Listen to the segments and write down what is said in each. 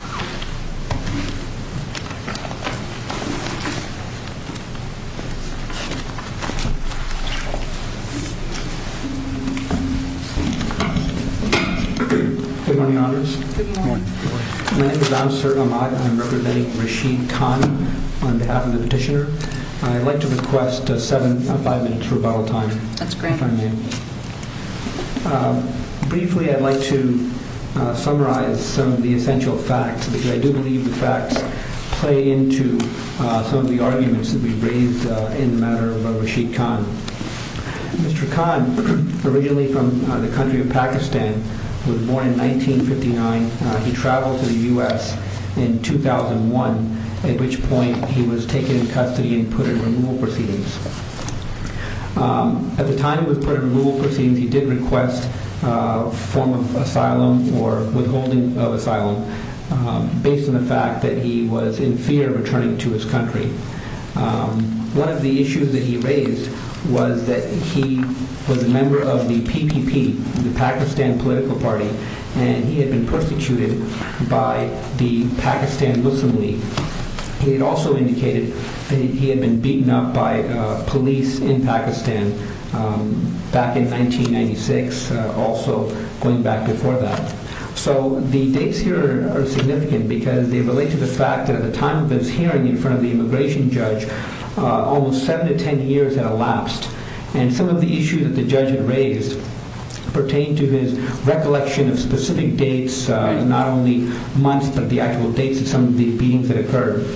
Good morning, Honors. Good morning. My name is Amsar Ahmad and I'm representing Rashid Khan on behalf of the Petitioner. I'd like to request five minutes rebuttal time. That's the facts play into some of the arguments that we've raised in the matter of Rashid Khan. Mr. Khan, originally from the country of Pakistan, was born in 1959. He traveled to the US in 2001, at which point he was taken in custody and put in removal proceedings. At the time he was put in holding of asylum based on the fact that he was in fear of returning to his country. One of the issues that he raised was that he was a member of the PPP, the Pakistan Political Party, and he had been persecuted by the Pakistan Muslim League. He had also indicated that he had been beaten up by the PPP. The dates here are significant because they relate to the fact that at the time of his hearing in front of the immigration judge, almost seven to 10 years had elapsed. Some of the issues that the judge had raised pertained to his recollection of specific dates, not only months, but the actual dates of some of the beatings that occurred.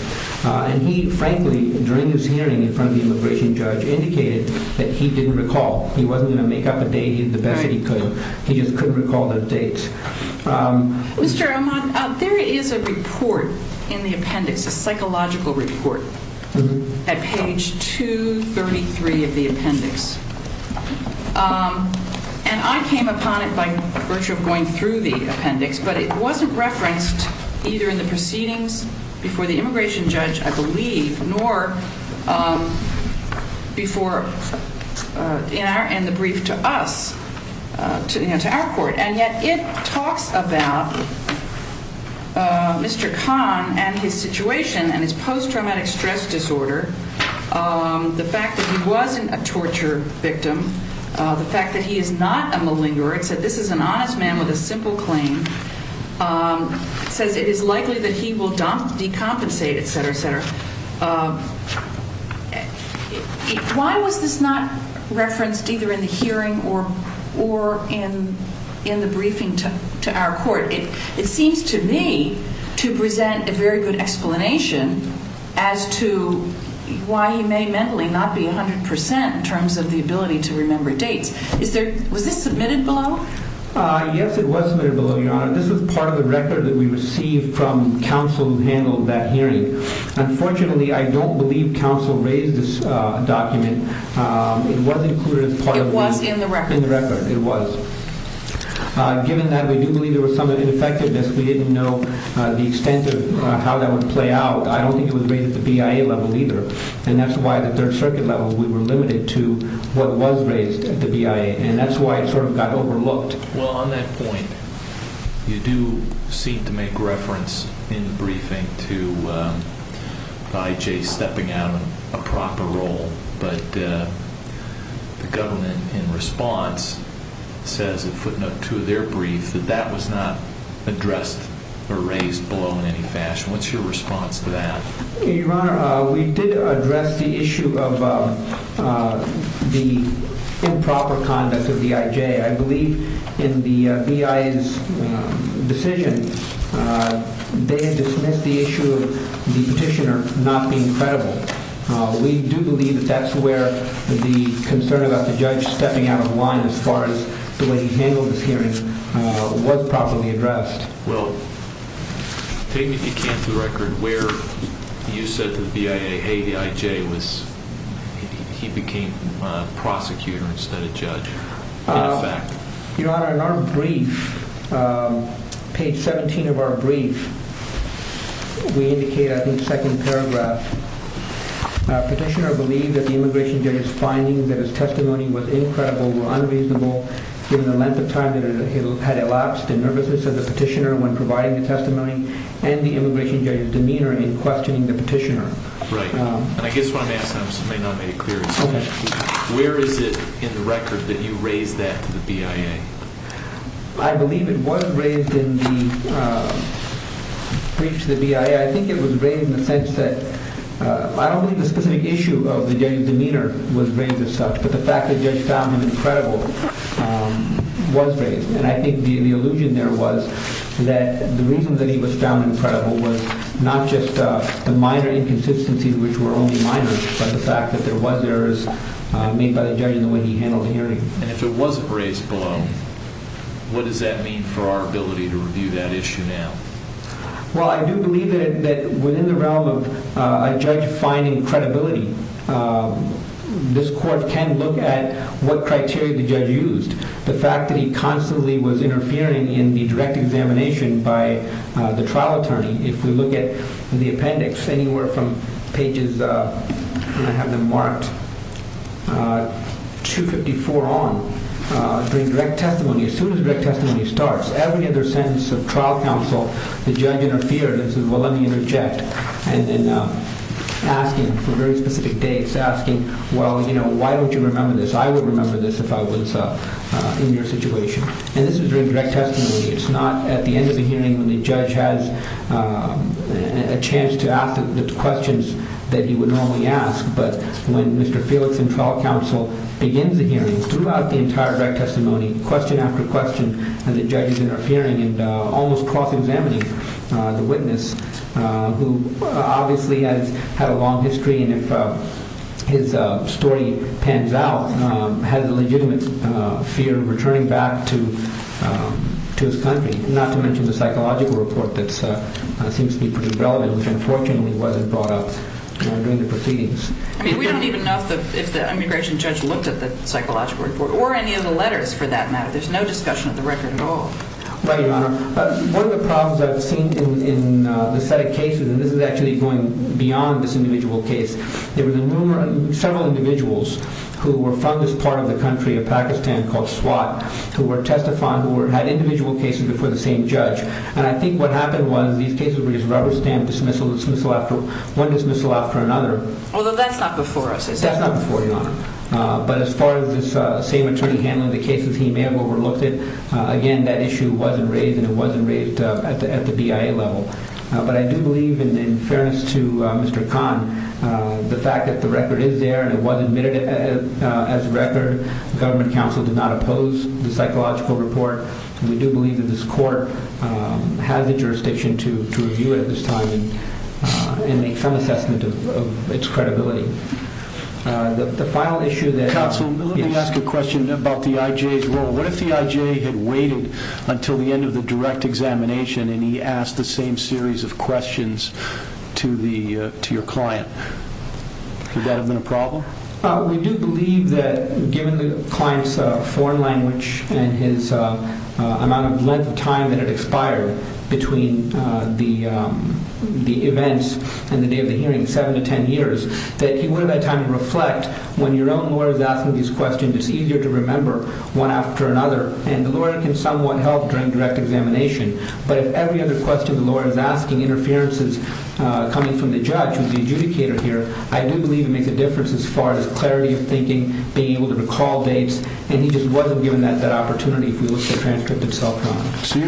He frankly, during his hearing in front of the immigration judge, indicated that he didn't recall. He wasn't going to make up a date, but he did the best that he could. He just couldn't recall those dates. Mr. Ahmad, there is a report in the appendix, a psychological report, at page 233 of the appendix. I came upon it by virtue of going through the appendix, but it wasn't referenced either in proceedings before the immigration judge, I believe, nor in the brief to us, to our court. And yet it talks about Mr. Khan and his situation and his post-traumatic stress disorder, the fact that he wasn't a torture victim, the fact that he is not a malingerer. It said this is an honest man with a simple claim. It says it is likely that he will decompensate, etc., etc. Why was this not referenced either in the hearing or in the briefing to our court? It seems to me to present a very good explanation as to why he may mentally not be 100% in terms of the ability to remember Yes, it was submitted below, Your Honor. This is part of the record that we received from counsel who handled that hearing. Unfortunately, I don't believe counsel raised this document. It was included as part of the... It was in the record. In the record, it was. Given that, we do believe there was some ineffectiveness. We didn't know the extent of how that would play out. I don't think it was raised at the BIA level either, and that's why at the Third Circuit level, we were limited to what was raised at the BIA, and that's why it sort of got overlooked. Well, on that point, you do seem to make reference in the briefing to IJ stepping out in a proper role, but the government in response says in footnote 2 of their brief that that was not addressed or raised below in any fashion. What's your response to that? Your Honor, we did address the issue of the improper conduct of the IJ. I believe in the BIA's decision, they had dismissed the issue of the petitioner not being credible. We do believe that that's where the concern about the judge stepping out of line as far as the way he handled this hearing was properly addressed. Well, take me back to the record where you said the BIA, the IJ, he became a prosecutor instead of judge, in effect. Your Honor, in our brief, page 17 of our brief, we indicate, I think, second paragraph, Petitioner believed that the immigration judge's findings of his testimony was incredible or unreasonable given the length of time that it had elapsed, and nervousness of the petitioner when providing the testimony, and the immigration judge's demeanor in questioning the petitioner. Right. And I guess what I'm asking, I just may not have made it clear, is where is it in the record that you raised that to the BIA? I believe it was raised in the brief to the BIA. I think it was raised in the sense that, I don't believe the specific issue of the judge's demeanor was raised itself, but the fact that the judge found him incredible was raised. And I think the illusion there was that the reason that he was found incredible was not just the minor inconsistencies, which were only minor, but the fact that there was errors made by the judge in the way he handled the hearing. And if it wasn't raised below, what does that mean for our ability to review that issue now? Well, I do believe that within the realm of a judge finding credibility, this court can look at what criteria the judge used. The fact that he constantly was interfering in the direct examination by the trial attorney. If we look at the appendix, anywhere from pages, and I have them marked, 254 on, during direct testimony, as soon as direct testimony starts, every other sentence of trial counsel, the judge interfered and said, well, let me interject. And then asking for very specific dates, asking, well, you know, why don't you remember this? I would remember this if I was in your situation. And this was during direct testimony. It's not at the end of the hearing when the judge has a chance to ask the questions that he would normally ask. But when Mr. Felix and trial counsel begins the hearing, throughout the entire direct testimony, question after question, and the judge is interfering and almost cross-examining the witness, who obviously has had a long history. And if his story pans out, has a legitimate fear of returning back to his country. Not to mention the psychological report that seems to be pretty relevant, which unfortunately wasn't brought up during the proceedings. I mean, we don't even know if the immigration judge looked at the psychological report or any of the letters for that matter. There's no discussion of the record at all. Right, Your Honor. One of the problems I've seen in the set of cases, and this is actually going beyond this individual case, there were several individuals who were from this part of the country of Pakistan called Swat who were testified, who had individual cases before the same judge. And I think what happened was these cases were just rubber-stamped dismissal after one dismissal after another. Although that's not before us, is it? That's not before you, Your Honor. But as far as this same attorney handling the cases, he may have overlooked it. Again, that issue wasn't raised and it wasn't raised at the BIA level. But I do believe, in fairness to Mr. Khan, the fact that the record is there and it was admitted as a record, the government counsel did not oppose the psychological report. We do believe that this court has the jurisdiction to review it at this time and make some assessment of its credibility. The final issue that... Counsel, let me ask a question about the IJ's role. What if the IJ had waited until the end of the direct examination and he asked the same series of questions to your client? Could that have been a problem? We do believe that, given the client's foreign language and his amount of length of time that had expired between the events and the day of the hearing, seven to ten years, that he would have had time to reflect. When your own lawyer is asking these questions, it's easier to remember one after another. And the lawyer can somewhat help during direct examination. But if every other question the lawyer is asking interferences coming from the judge, who's the adjudicator here, I do believe it makes a difference as far as clarity of thinking, being able to recall dates. And he just wasn't given that opportunity if we look at the transcript itself, Your Honor. If he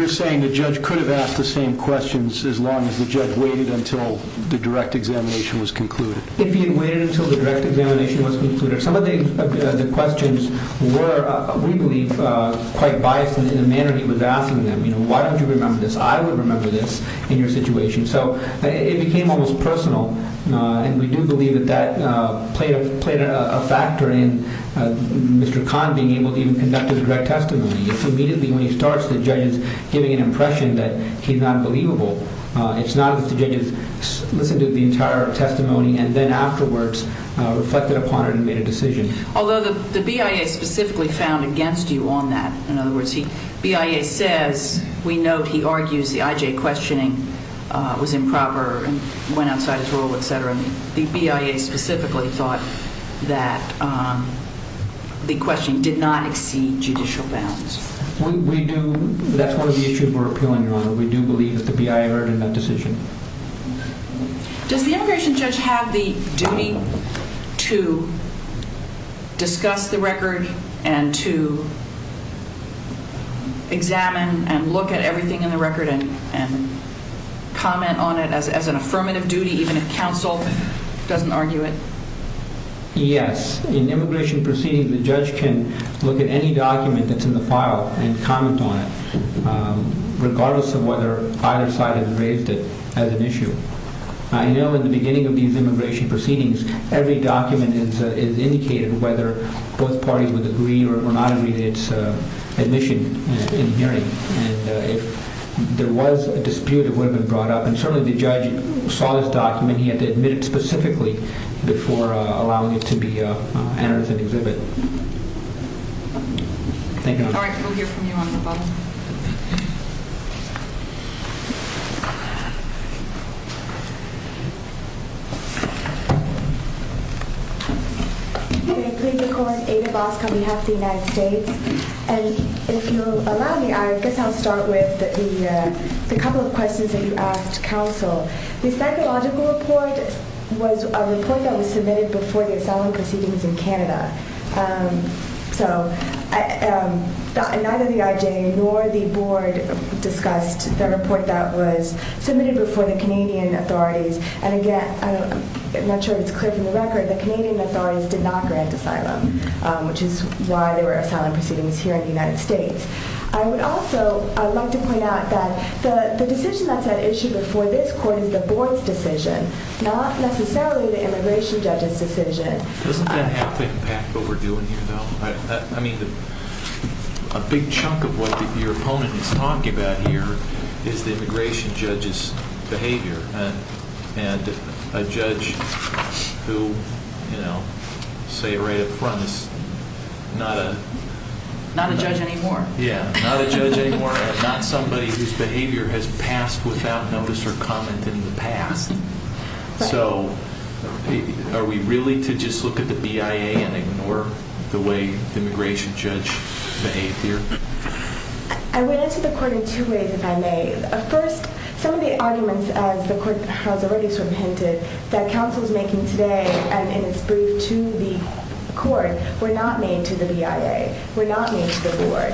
had waited until the direct examination was concluded. If he had waited until the direct examination was concluded. Some of the questions were, we believe, quite biased in the manner that he was asking them. You know, why don't you remember this? I would remember this in your situation. So it became almost personal. And we do believe that that played a factor in Mr. Kahn being able to even conduct a direct testimony. If immediately when he starts, the judge is giving an impression that he's not believable, it's not as if the judge has listened to the entire testimony and then afterwards reflected upon it and made a decision. Although the BIA specifically found against you on that. In other words, the BIA says, we note he argues the IJ questioning was improper and went outside his role, etc. The BIA specifically thought that the question did not exceed judicial bounds. We do. That's one of the issues we're appealing, Your Honor. We do believe that the BIA erred in that decision. Does the immigration judge have the duty to discuss the record and to examine and look at everything in the record and comment on it as an affirmative duty, even if counsel doesn't argue it? Yes. In immigration proceedings, the judge can look at any document that's in the file and comment on it, regardless of whether either side has raised it as an issue. I know in the beginning of these immigration proceedings, every document is indicated, whether both parties would agree or not agree to its admission in hearing. If there was a dispute, it would have been brought up. Certainly, the judge saw this document. He had to admit it specifically before allowing it to be entered as an exhibit. Thank you, Your Honor. All right. We'll hear from you on the phone. May it please the Court, Ada Bosco on behalf of the United States. If you'll allow me, I guess I'll start with a couple of questions that you asked counsel. The psychological report was a report that was submitted before the asylum proceedings in Canada. So, neither the IJ nor the Board discussed the report that was submitted before the Canadian authorities. And again, I'm not sure if it's clear from the record, the Canadian authorities did not grant asylum, which is why there were asylum proceedings here in the United States. I would also like to point out that the decision that's at issue before this Court is the Board's decision, not necessarily the immigration judge's decision. Doesn't that have to impact what we're doing here, though? I mean, a big chunk of what your opponent is talking about here is the immigration judge's behavior. And a judge who, you know, say right up front is not a... Not a judge anymore. Yeah, not a judge anymore, not somebody whose behavior has passed without notice or comment in the past. So, are we really to just look at the BIA and ignore the way the immigration judge behaved here? I would answer the Court in two ways, if I may. First, some of the arguments, as the Court has already sort of hinted, that counsel is making today, and it's briefed to the Court, were not made to the BIA, were not made to the Board.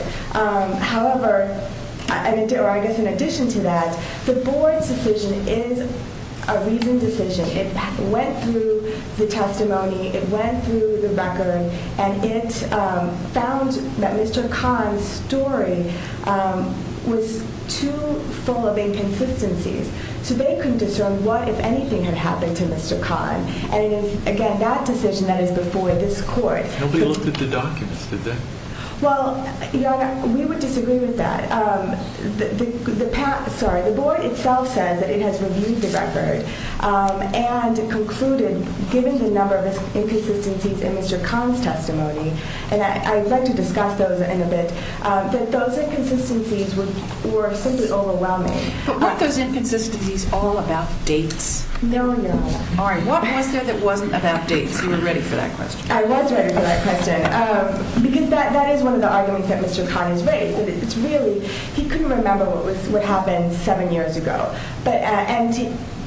However, or I guess in addition to that, the Board's decision is a reasoned decision. It went through the testimony, it went through the record, and it found that Mr. Kahn's story was too full of inconsistencies. So they couldn't discern what, if anything, had happened to Mr. Kahn. And it is, again, that decision that is before this Court. Nobody looked at the documents, did they? Well, we would disagree with that. The Board itself says that it has reviewed the record and concluded, given the number of inconsistencies in Mr. Kahn's testimony, and I'd like to discuss those in a bit, that those inconsistencies were simply overwhelming. But weren't those inconsistencies all about dates? No, no. All right, what was there that wasn't about dates? You were ready for that question. I was ready for that question, because that is one of the arguments that Mr. Kahn has raised. It's really, he couldn't remember what happened seven years ago. And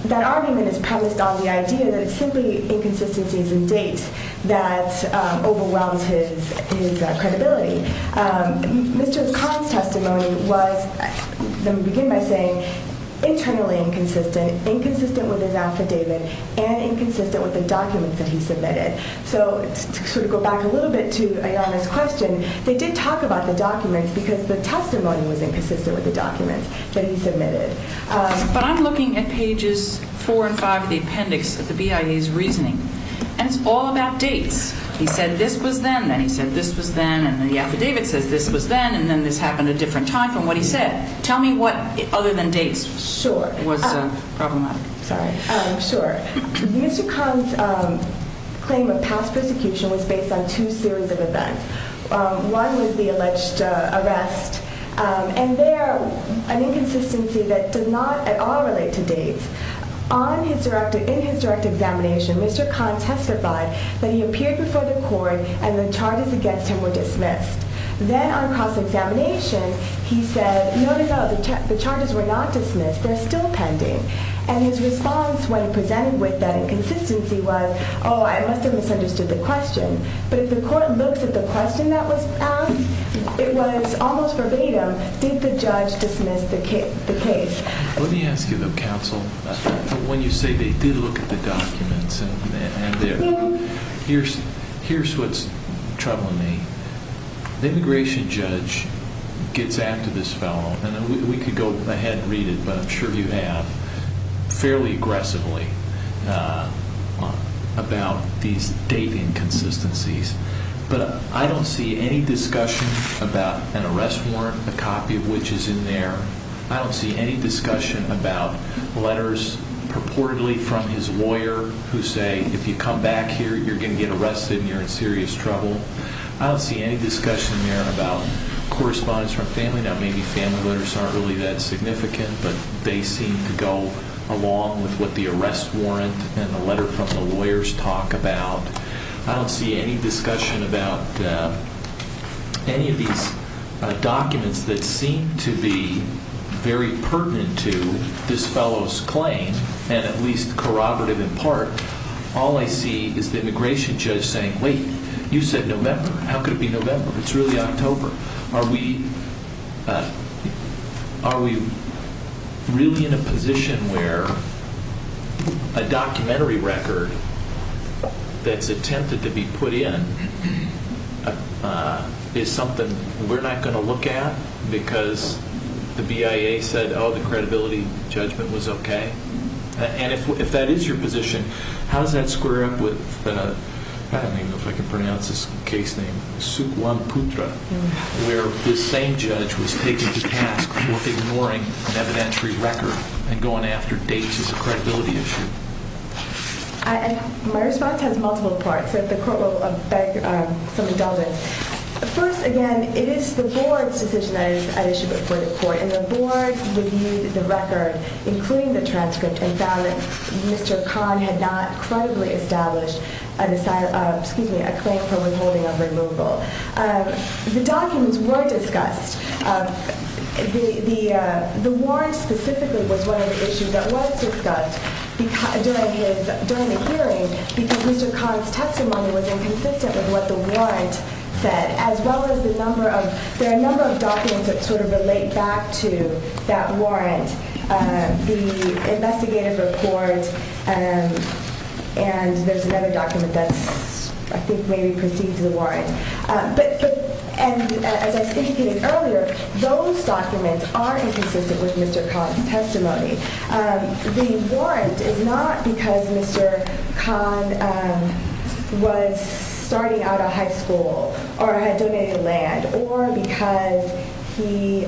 that argument is premised on the idea that it's simply inconsistencies in dates that overwhelms his credibility. Mr. Kahn's testimony was, let me begin by saying, internally inconsistent, inconsistent with his affidavit, and inconsistent with the documents that he submitted. So to sort of go back a little bit to Ayanna's question, they did talk about the documents because the testimony was inconsistent with the documents that he submitted. But I'm looking at pages four and five of the appendix of the BIA's reasoning, and it's all about dates. He said this was then, then he said this was then, and then the affidavit says this was then, and then this happened a different time from what he said. Tell me what, other than dates, was problematic. Sorry, sure. Mr. Kahn's claim of past persecution was based on two series of events. One was the alleged arrest, and there, an inconsistency that does not at all relate to dates. In his direct examination, Mr. Kahn testified that he appeared before the court and the charges against him were dismissed. Then on cross-examination, he said, no, no, no, the charges were not dismissed, they're still pending. And his response when he presented with that inconsistency was, oh, I must have misunderstood the question. But if the court looks at the question that was asked, it was almost verbatim, did the judge dismiss the case? Let me ask you, though, counsel, when you say they did look at the documents and they're, here's what's troubling me. The immigration judge gets after this fellow, and we could go ahead and read it, but I'm sure you have, fairly aggressively about these date inconsistencies. But I don't see any discussion about an arrest warrant, a copy of which is in there. I don't see any discussion about letters purportedly from his lawyer who say, if you come back here, you're going to get arrested and you're in serious trouble. I don't see any discussion there about correspondence from family. Now, maybe family letters aren't really that significant, but they seem to go along with what the arrest warrant and the letter from the lawyers talk about. I don't see any discussion about any of these documents that seem to be very pertinent to this fellow's claim, and at least corroborative in part. All I see is the immigration judge saying, wait, you said November. How could it be November? It's really October. Are we really in a position where a documentary record that's attempted to be put in is something we're not going to look at because the BIA said, oh, the credibility judgment was okay? And if that is your position, how does that square up with, I don't even know if I can pronounce this case name, Sukhwamputra, where this same judge was taken to task for ignoring an evidentiary record and going after dates as a credibility issue? My response has multiple parts, so if the court will beg some indulgence. First, again, it is the board's decision that is at issue before the court, and the board reviewed the record, including the transcript, and found that Mr. Khan had not credibly established a claim for withholding of removal. The documents were discussed. The warrant specifically was one of the issues that was discussed during the hearing because Mr. Khan's testimony was inconsistent with what the warrant said, as well as the number of documents that sort of relate back to that warrant, the investigative report, and there's another document that I think maybe precedes the warrant. But as I indicated earlier, those documents are inconsistent with Mr. Khan's testimony. The warrant is not because Mr. Khan was starting out of high school or had donated land, or because he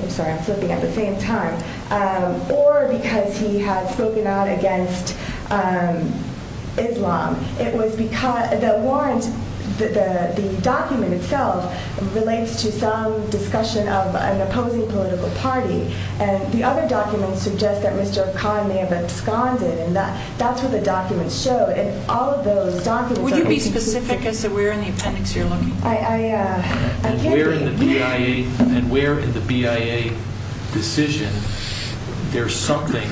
had spoken out against Islam. The document itself relates to some discussion of an opposing political party, and the other documents suggest that Mr. Khan may have absconded, and that's what the documents show, and all of those documents are inconsistent. Would you be specific as to where in the appendix you're looking? I can't think. And where in the BIA decision there's something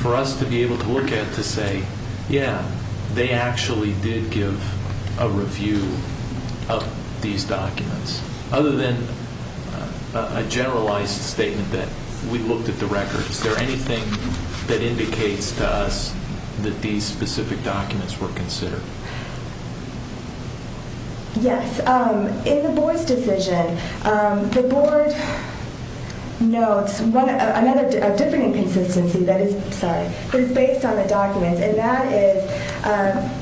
for us to be able to look at to say, yeah, they actually did give a review of these documents, other than a generalized statement that we looked at the records. Is there anything that indicates to us that these specific documents were considered? Yes. In the board's decision, the board notes a different inconsistency that is based on the documents, and that is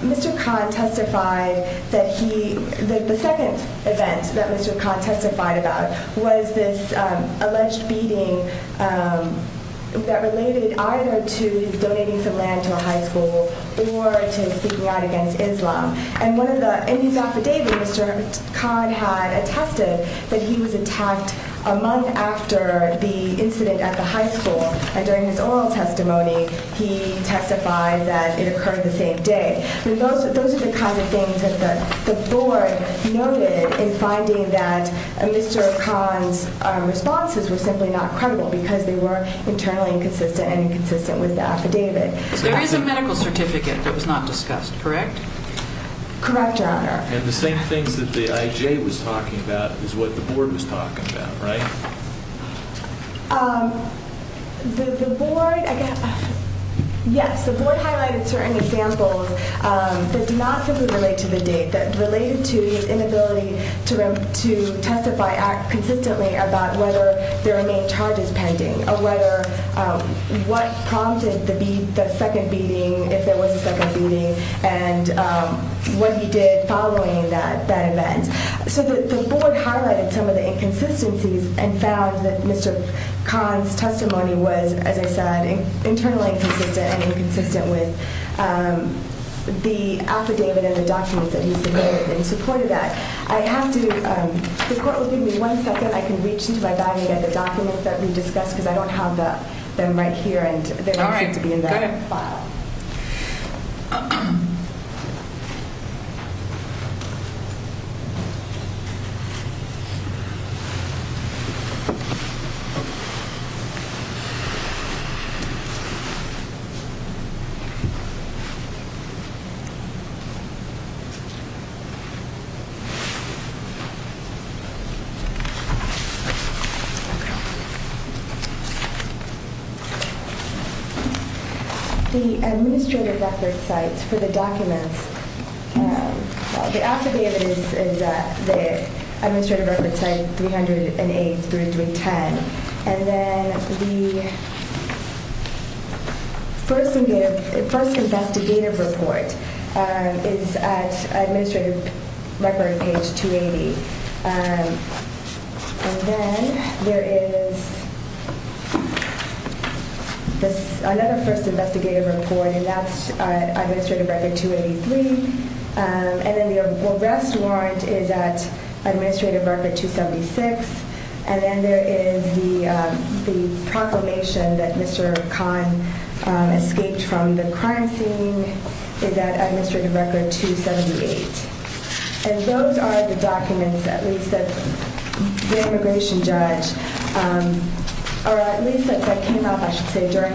Mr. Khan testified that the second event that Mr. Khan testified about was this alleged beating that related either to his donating some land to a high school or to his speaking out against Islam. In his affidavit, Mr. Khan had attested that he was attacked a month after the incident at the high school, and during his oral testimony he testified that it occurred the same day. Those are the kinds of things that the board noted in finding that Mr. Khan's responses were simply not credible because they were internally inconsistent and inconsistent with the affidavit. There is a medical certificate that was not discussed, correct? Correct, Your Honor. And the same things that the IJ was talking about is what the board was talking about, right? Yes, the board highlighted certain examples that do not simply relate to the date, that related to his inability to testify, act consistently about whether there are main charges pending or what prompted the second beating, if there was a second beating, and what he did following that event. So the board highlighted some of the inconsistencies and found that Mr. Khan's testimony was, as I said, internally inconsistent and inconsistent with the affidavit and the documents that he submitted in support of that. The court will give me one second. I can reach into my bag and get the documents that we discussed because I don't have them right here and they don't seem to be in the file. The administrative record site for the documents, the affidavit is the administrative record site 308 through 310. And then the first investigative report is at administrative record page 280. And then there is another first investigative report and that's administrative record 283. And then the arrest warrant is at administrative record 276. And then there is the proclamation that Mr. Khan escaped from the crime scene is at administrative record 278. And those are the documents that the immigration judge, or at least that came up, I should say, during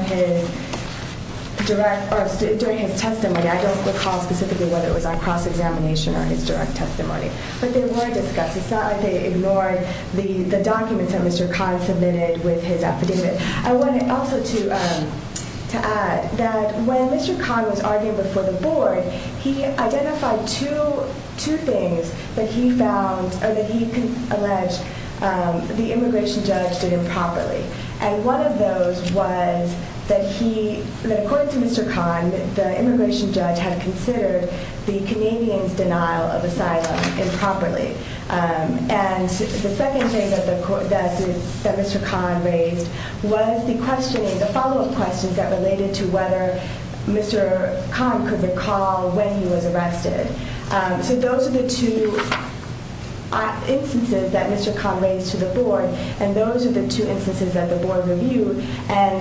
his testimony. I don't recall specifically whether it was on cross-examination or his direct testimony. But they were discussed. It's not like they ignored the documents that Mr. Khan submitted with his affidavit. I wanted also to add that when Mr. Khan was arguing before the board, he identified two things that he found or that he alleged the immigration judge did improperly. And one of those was that he, according to Mr. Khan, the immigration judge had considered the Canadians' denial of asylum improperly. And the second thing that Mr. Khan raised was the follow-up questions that related to whether Mr. Khan could recall when he was arrested. So those are the two instances that Mr. Khan raised to the board. And those are the two instances that the board reviewed. And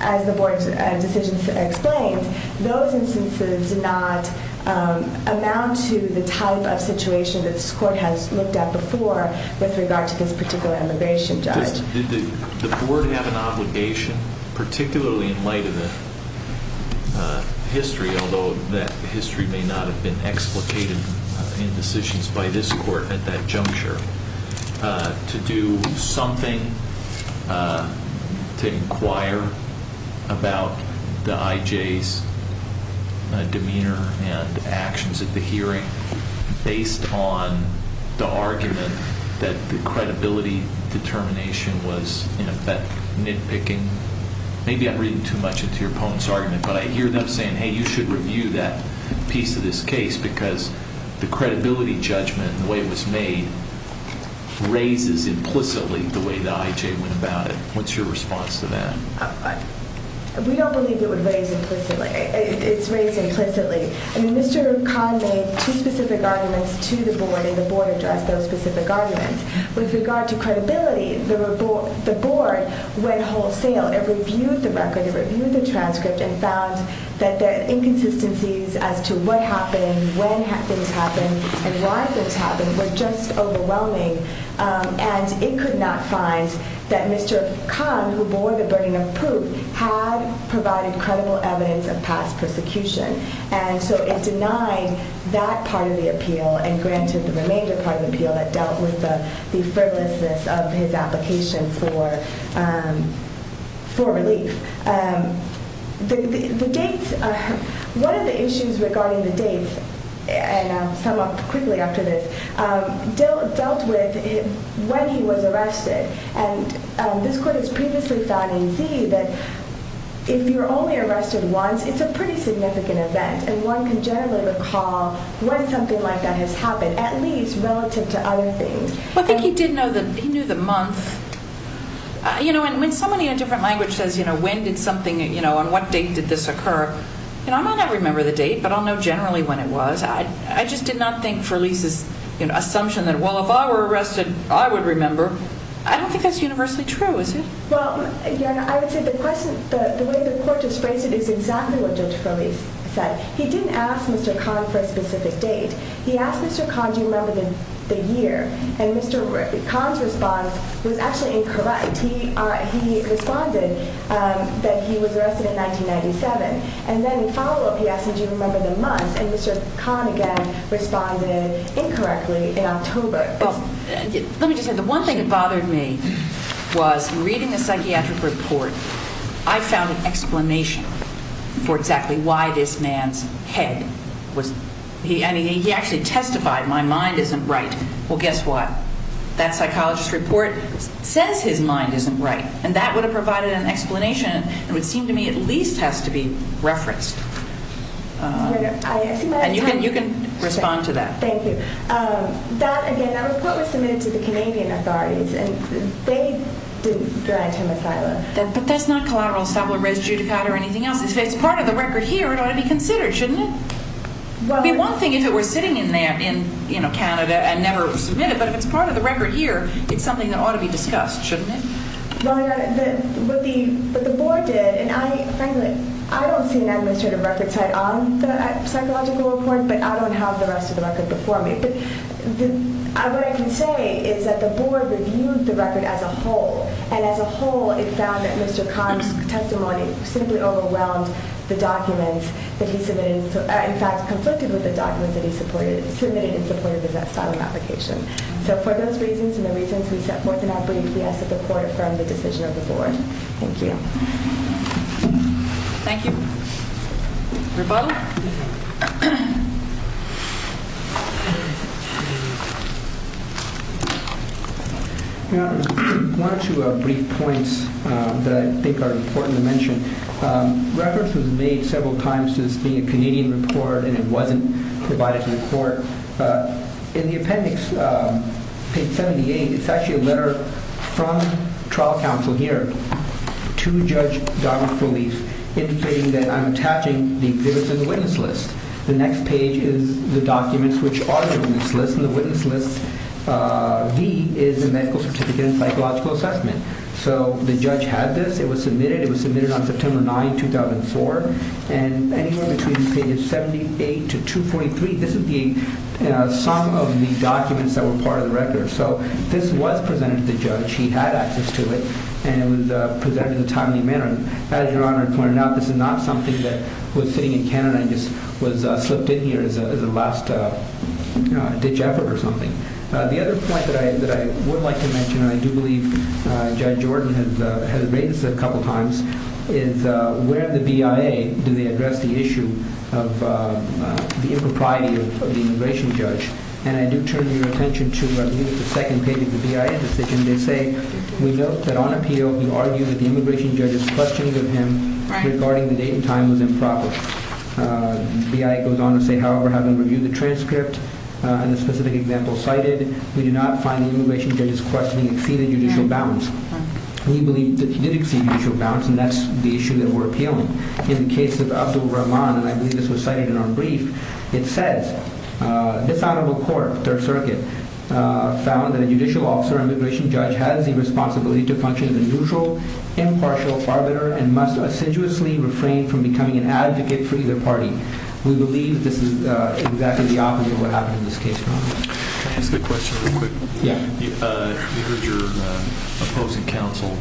as the board's decision explains, those instances do not amount to the type of situation that this court has looked at before with regard to this particular immigration judge. Did the board have an obligation, particularly in light of the history, although that history may not have been explicated in decisions by this court at that juncture, to do something to inquire about the IJ's demeanor and actions at the hearing based on the argument that the credibility determination was, in effect, nitpicking? Maybe I'm reading too much into your opponent's argument. But I hear them saying, hey, you should review that piece of this case because the credibility judgment and the way it was made raises implicitly the way the IJ went about it. What's your response to that? We don't believe it would raise implicitly. It's raised implicitly. I mean, Mr. Khan made two specific arguments to the board, and the board addressed those specific arguments. With regard to credibility, the board went wholesale. It reviewed the record. It reviewed the transcript and found that the inconsistencies as to what happened, when things happened, and why things happened were just overwhelming. And it could not find that Mr. Khan, who bore the burden of proof, had provided credible evidence of past persecution. And so it denied that part of the appeal and granted the remainder part of the appeal that dealt with the frivolousness of his application for relief. One of the issues regarding the dates, and I'll sum up quickly after this, dealt with when he was arrested. And this court has previously thought in Z that if you're only arrested once, it's a pretty significant event. And one can generally recall when something like that has happened, at least relative to other things. Well, I think he did know the month. You know, and when somebody in a different language says, you know, when did something, you know, on what date did this occur, you know, I might not remember the date, but I'll know generally when it was. I just did not think Ferlise's assumption that, well, if I were arrested, I would remember, I don't think that's universally true, is it? Well, again, I would say the question, the way the court just phrased it is exactly what Judge Ferlise said. He didn't ask Mr. Khan for a specific date. He asked Mr. Khan, do you remember the year? And Mr. Khan's response was actually incorrect. He responded that he was arrested in 1997. And then, in follow-up, he asked him, do you remember the month? And Mr. Khan, again, responded incorrectly, in October. Well, let me just say, the one thing that bothered me was, reading the psychiatric report, I found an explanation for exactly why this man's head was, I mean, he actually testified, my mind isn't right. Well, guess what? That psychologist's report says his mind isn't right. And that would have provided an explanation that would seem to me at least has to be referenced. And you can respond to that. Thank you. That, again, that report was submitted to the Canadian authorities, and they denied him asylum. But that's not collateral establishment, res judicata, or anything else. If it's part of the record here, it ought to be considered, shouldn't it? It would be one thing if it were sitting in Canada and never submitted, but if it's part of the record here, it's something that ought to be discussed, shouldn't it? Well, you know, what the board did, and I, frankly, I don't see an administrative record site on the psychological report, but I don't have the rest of the record before me. But what I can say is that the board reviewed the record as a whole. And as a whole, it found that Mr. Khan's testimony simply overwhelmed the documents that he submitted, in fact, conflicted with the documents that he submitted in support of his asylum application. So for those reasons and the reasons we set forth in our brief, we ask that the court affirm the decision of the board. Thank you. Thank you. Rebuttal? Your Honor, one or two brief points that I think are important to mention. Reference was made several times to this being a Canadian report, and it wasn't provided to the court. In the appendix, page 78, it's actually a letter from trial counsel here to Judge Dominic Relief indicating that I'm attaching the exhibits in the witness list. The next page is the documents which are in this list, and the witness list, V, is the medical certificate and psychological assessment. So the judge had this. It was submitted. It was submitted on September 9, 2004. And anywhere between pages 78 to 243, this would be some of the documents that were part of the record. So this was presented to the judge. He had access to it, and it was presented in a timely manner. As Your Honor pointed out, this is not something that was sitting in Canada and just was slipped in here as a last-ditch effort or something. The other point that I would like to mention, and I do believe Judge Jordan has raised this a couple times, is where the BIA, do they address the issue of the impropriety of the immigration judge? And I do turn your attention to the second page of the BIA decision. They say, we note that on appeal, you argue that the immigration judge's questions of him regarding the date and time was improper. BIA goes on to say, however, having reviewed the transcript and the specific example cited, we do not find the immigration judge's questioning exceeded judicial bounds. We believe that he did exceed judicial bounds, and that's the issue that we're appealing. In the case of Abdul Rahman, and I believe this was cited in our brief, it says, This Honorable Court, Third Circuit, found that a judicial officer immigration judge has the responsibility to function as a neutral, impartial arbiter and must assiduously refrain from becoming an advocate for either party. We believe this is exactly the opposite of what happened in this case, Your Honor. Can I ask a question real quick? Yeah. You heard your opposing counsel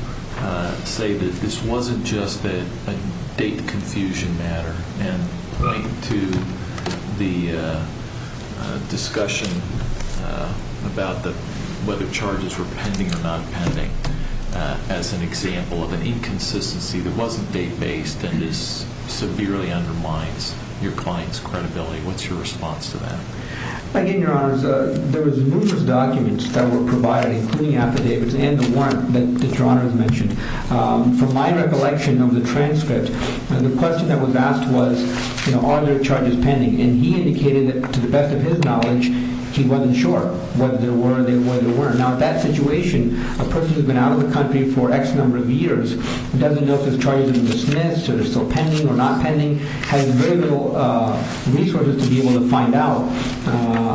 say that this wasn't just a date confusion matter. And to the discussion about whether charges were pending or not pending, as an example of an inconsistency that wasn't date-based, and this severely undermines your client's credibility, what's your response to that? Again, Your Honors, there was numerous documents that were provided, including affidavits and the warrant that Your Honor has mentioned. From my recollection of the transcript, the question that was asked was, you know, are there charges pending? And he indicated that, to the best of his knowledge, he wasn't sure whether there were or there weren't. Now, in that situation, a person who's been out of the country for X number of years, doesn't know if there's charges in the dismiss, or they're still pending or not pending, has very little resources to be able to find out.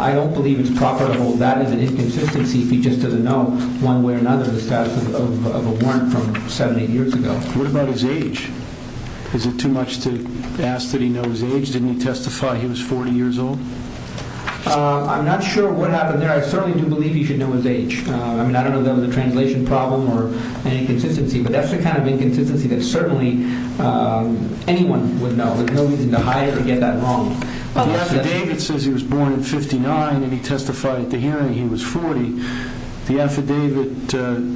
I don't believe it's proper to hold that as an inconsistency if he just doesn't know, one way or another, the status of a warrant from seven, eight years ago. What about his age? Is it too much to ask that he know his age? Didn't he testify he was 40 years old? I'm not sure what happened there. I certainly do believe he should know his age. I mean, I don't know if that was a translation problem or an inconsistency, but that's the kind of inconsistency that certainly anyone would know. There's no reason to hide it or get that wrong. The affidavit says he was born in 59 and he testified at the hearing he was 40. The affidavit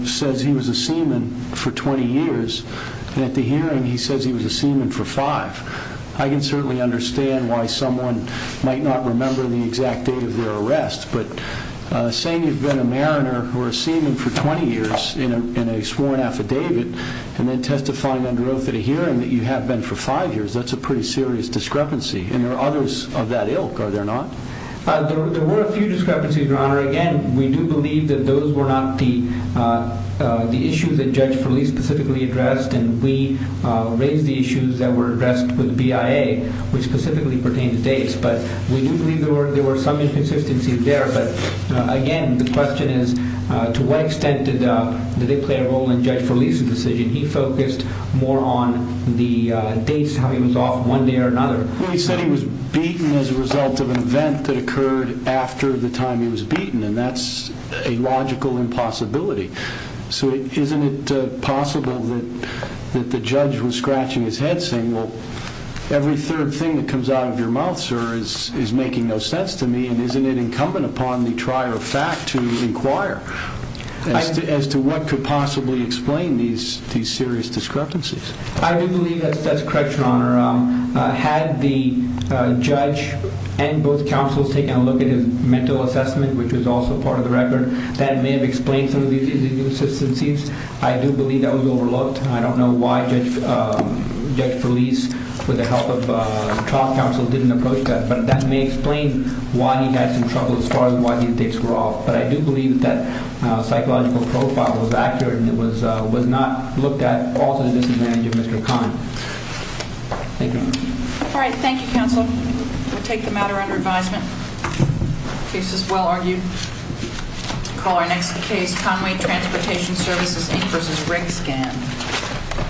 says he was a seaman for 20 years, and at the hearing he says he was a seaman for five. I can certainly understand why someone might not remember the exact date of their arrest, but saying you've been a mariner or a seaman for 20 years in a sworn affidavit and then testifying under oath at a hearing that you have been for five years, that's a pretty serious discrepancy, and there are others of that ilk, are there not? There were a few discrepancies, Your Honor. Again, we do believe that those were not the issues that Judge Felice specifically addressed, and we raised the issues that were addressed with BIA, which specifically pertain to dates, but we do believe there were some inconsistencies there. But again, the question is to what extent did they play a role in Judge Felice's decision? He focused more on the dates, how he was off one day or another. He said he was beaten as a result of an event that occurred after the time he was beaten, and that's a logical impossibility. So isn't it possible that the judge was scratching his head saying, well, every third thing that comes out of your mouth, sir, is making no sense to me, and isn't it incumbent upon the trier of fact to inquire as to what could possibly explain these serious discrepancies? I do believe that's correct, Your Honor. Had the judge and both counsels taken a look at his mental assessment, which was also part of the record, that may have explained some of these inconsistencies. I do believe that was overlooked. I don't know why Judge Felice, with the help of trial counsel, didn't approach that, but that may explain why he had some trouble as far as why these dates were off. But I do believe that psychological profile was accurate and it was not looked at also to the disadvantage of Mr. Conway. Thank you, Your Honor. All right, thank you, counsel. We'll take the matter under advisement. The case is well argued. Call our next case, Conway Transportation Services, Ink v. Riggsgan.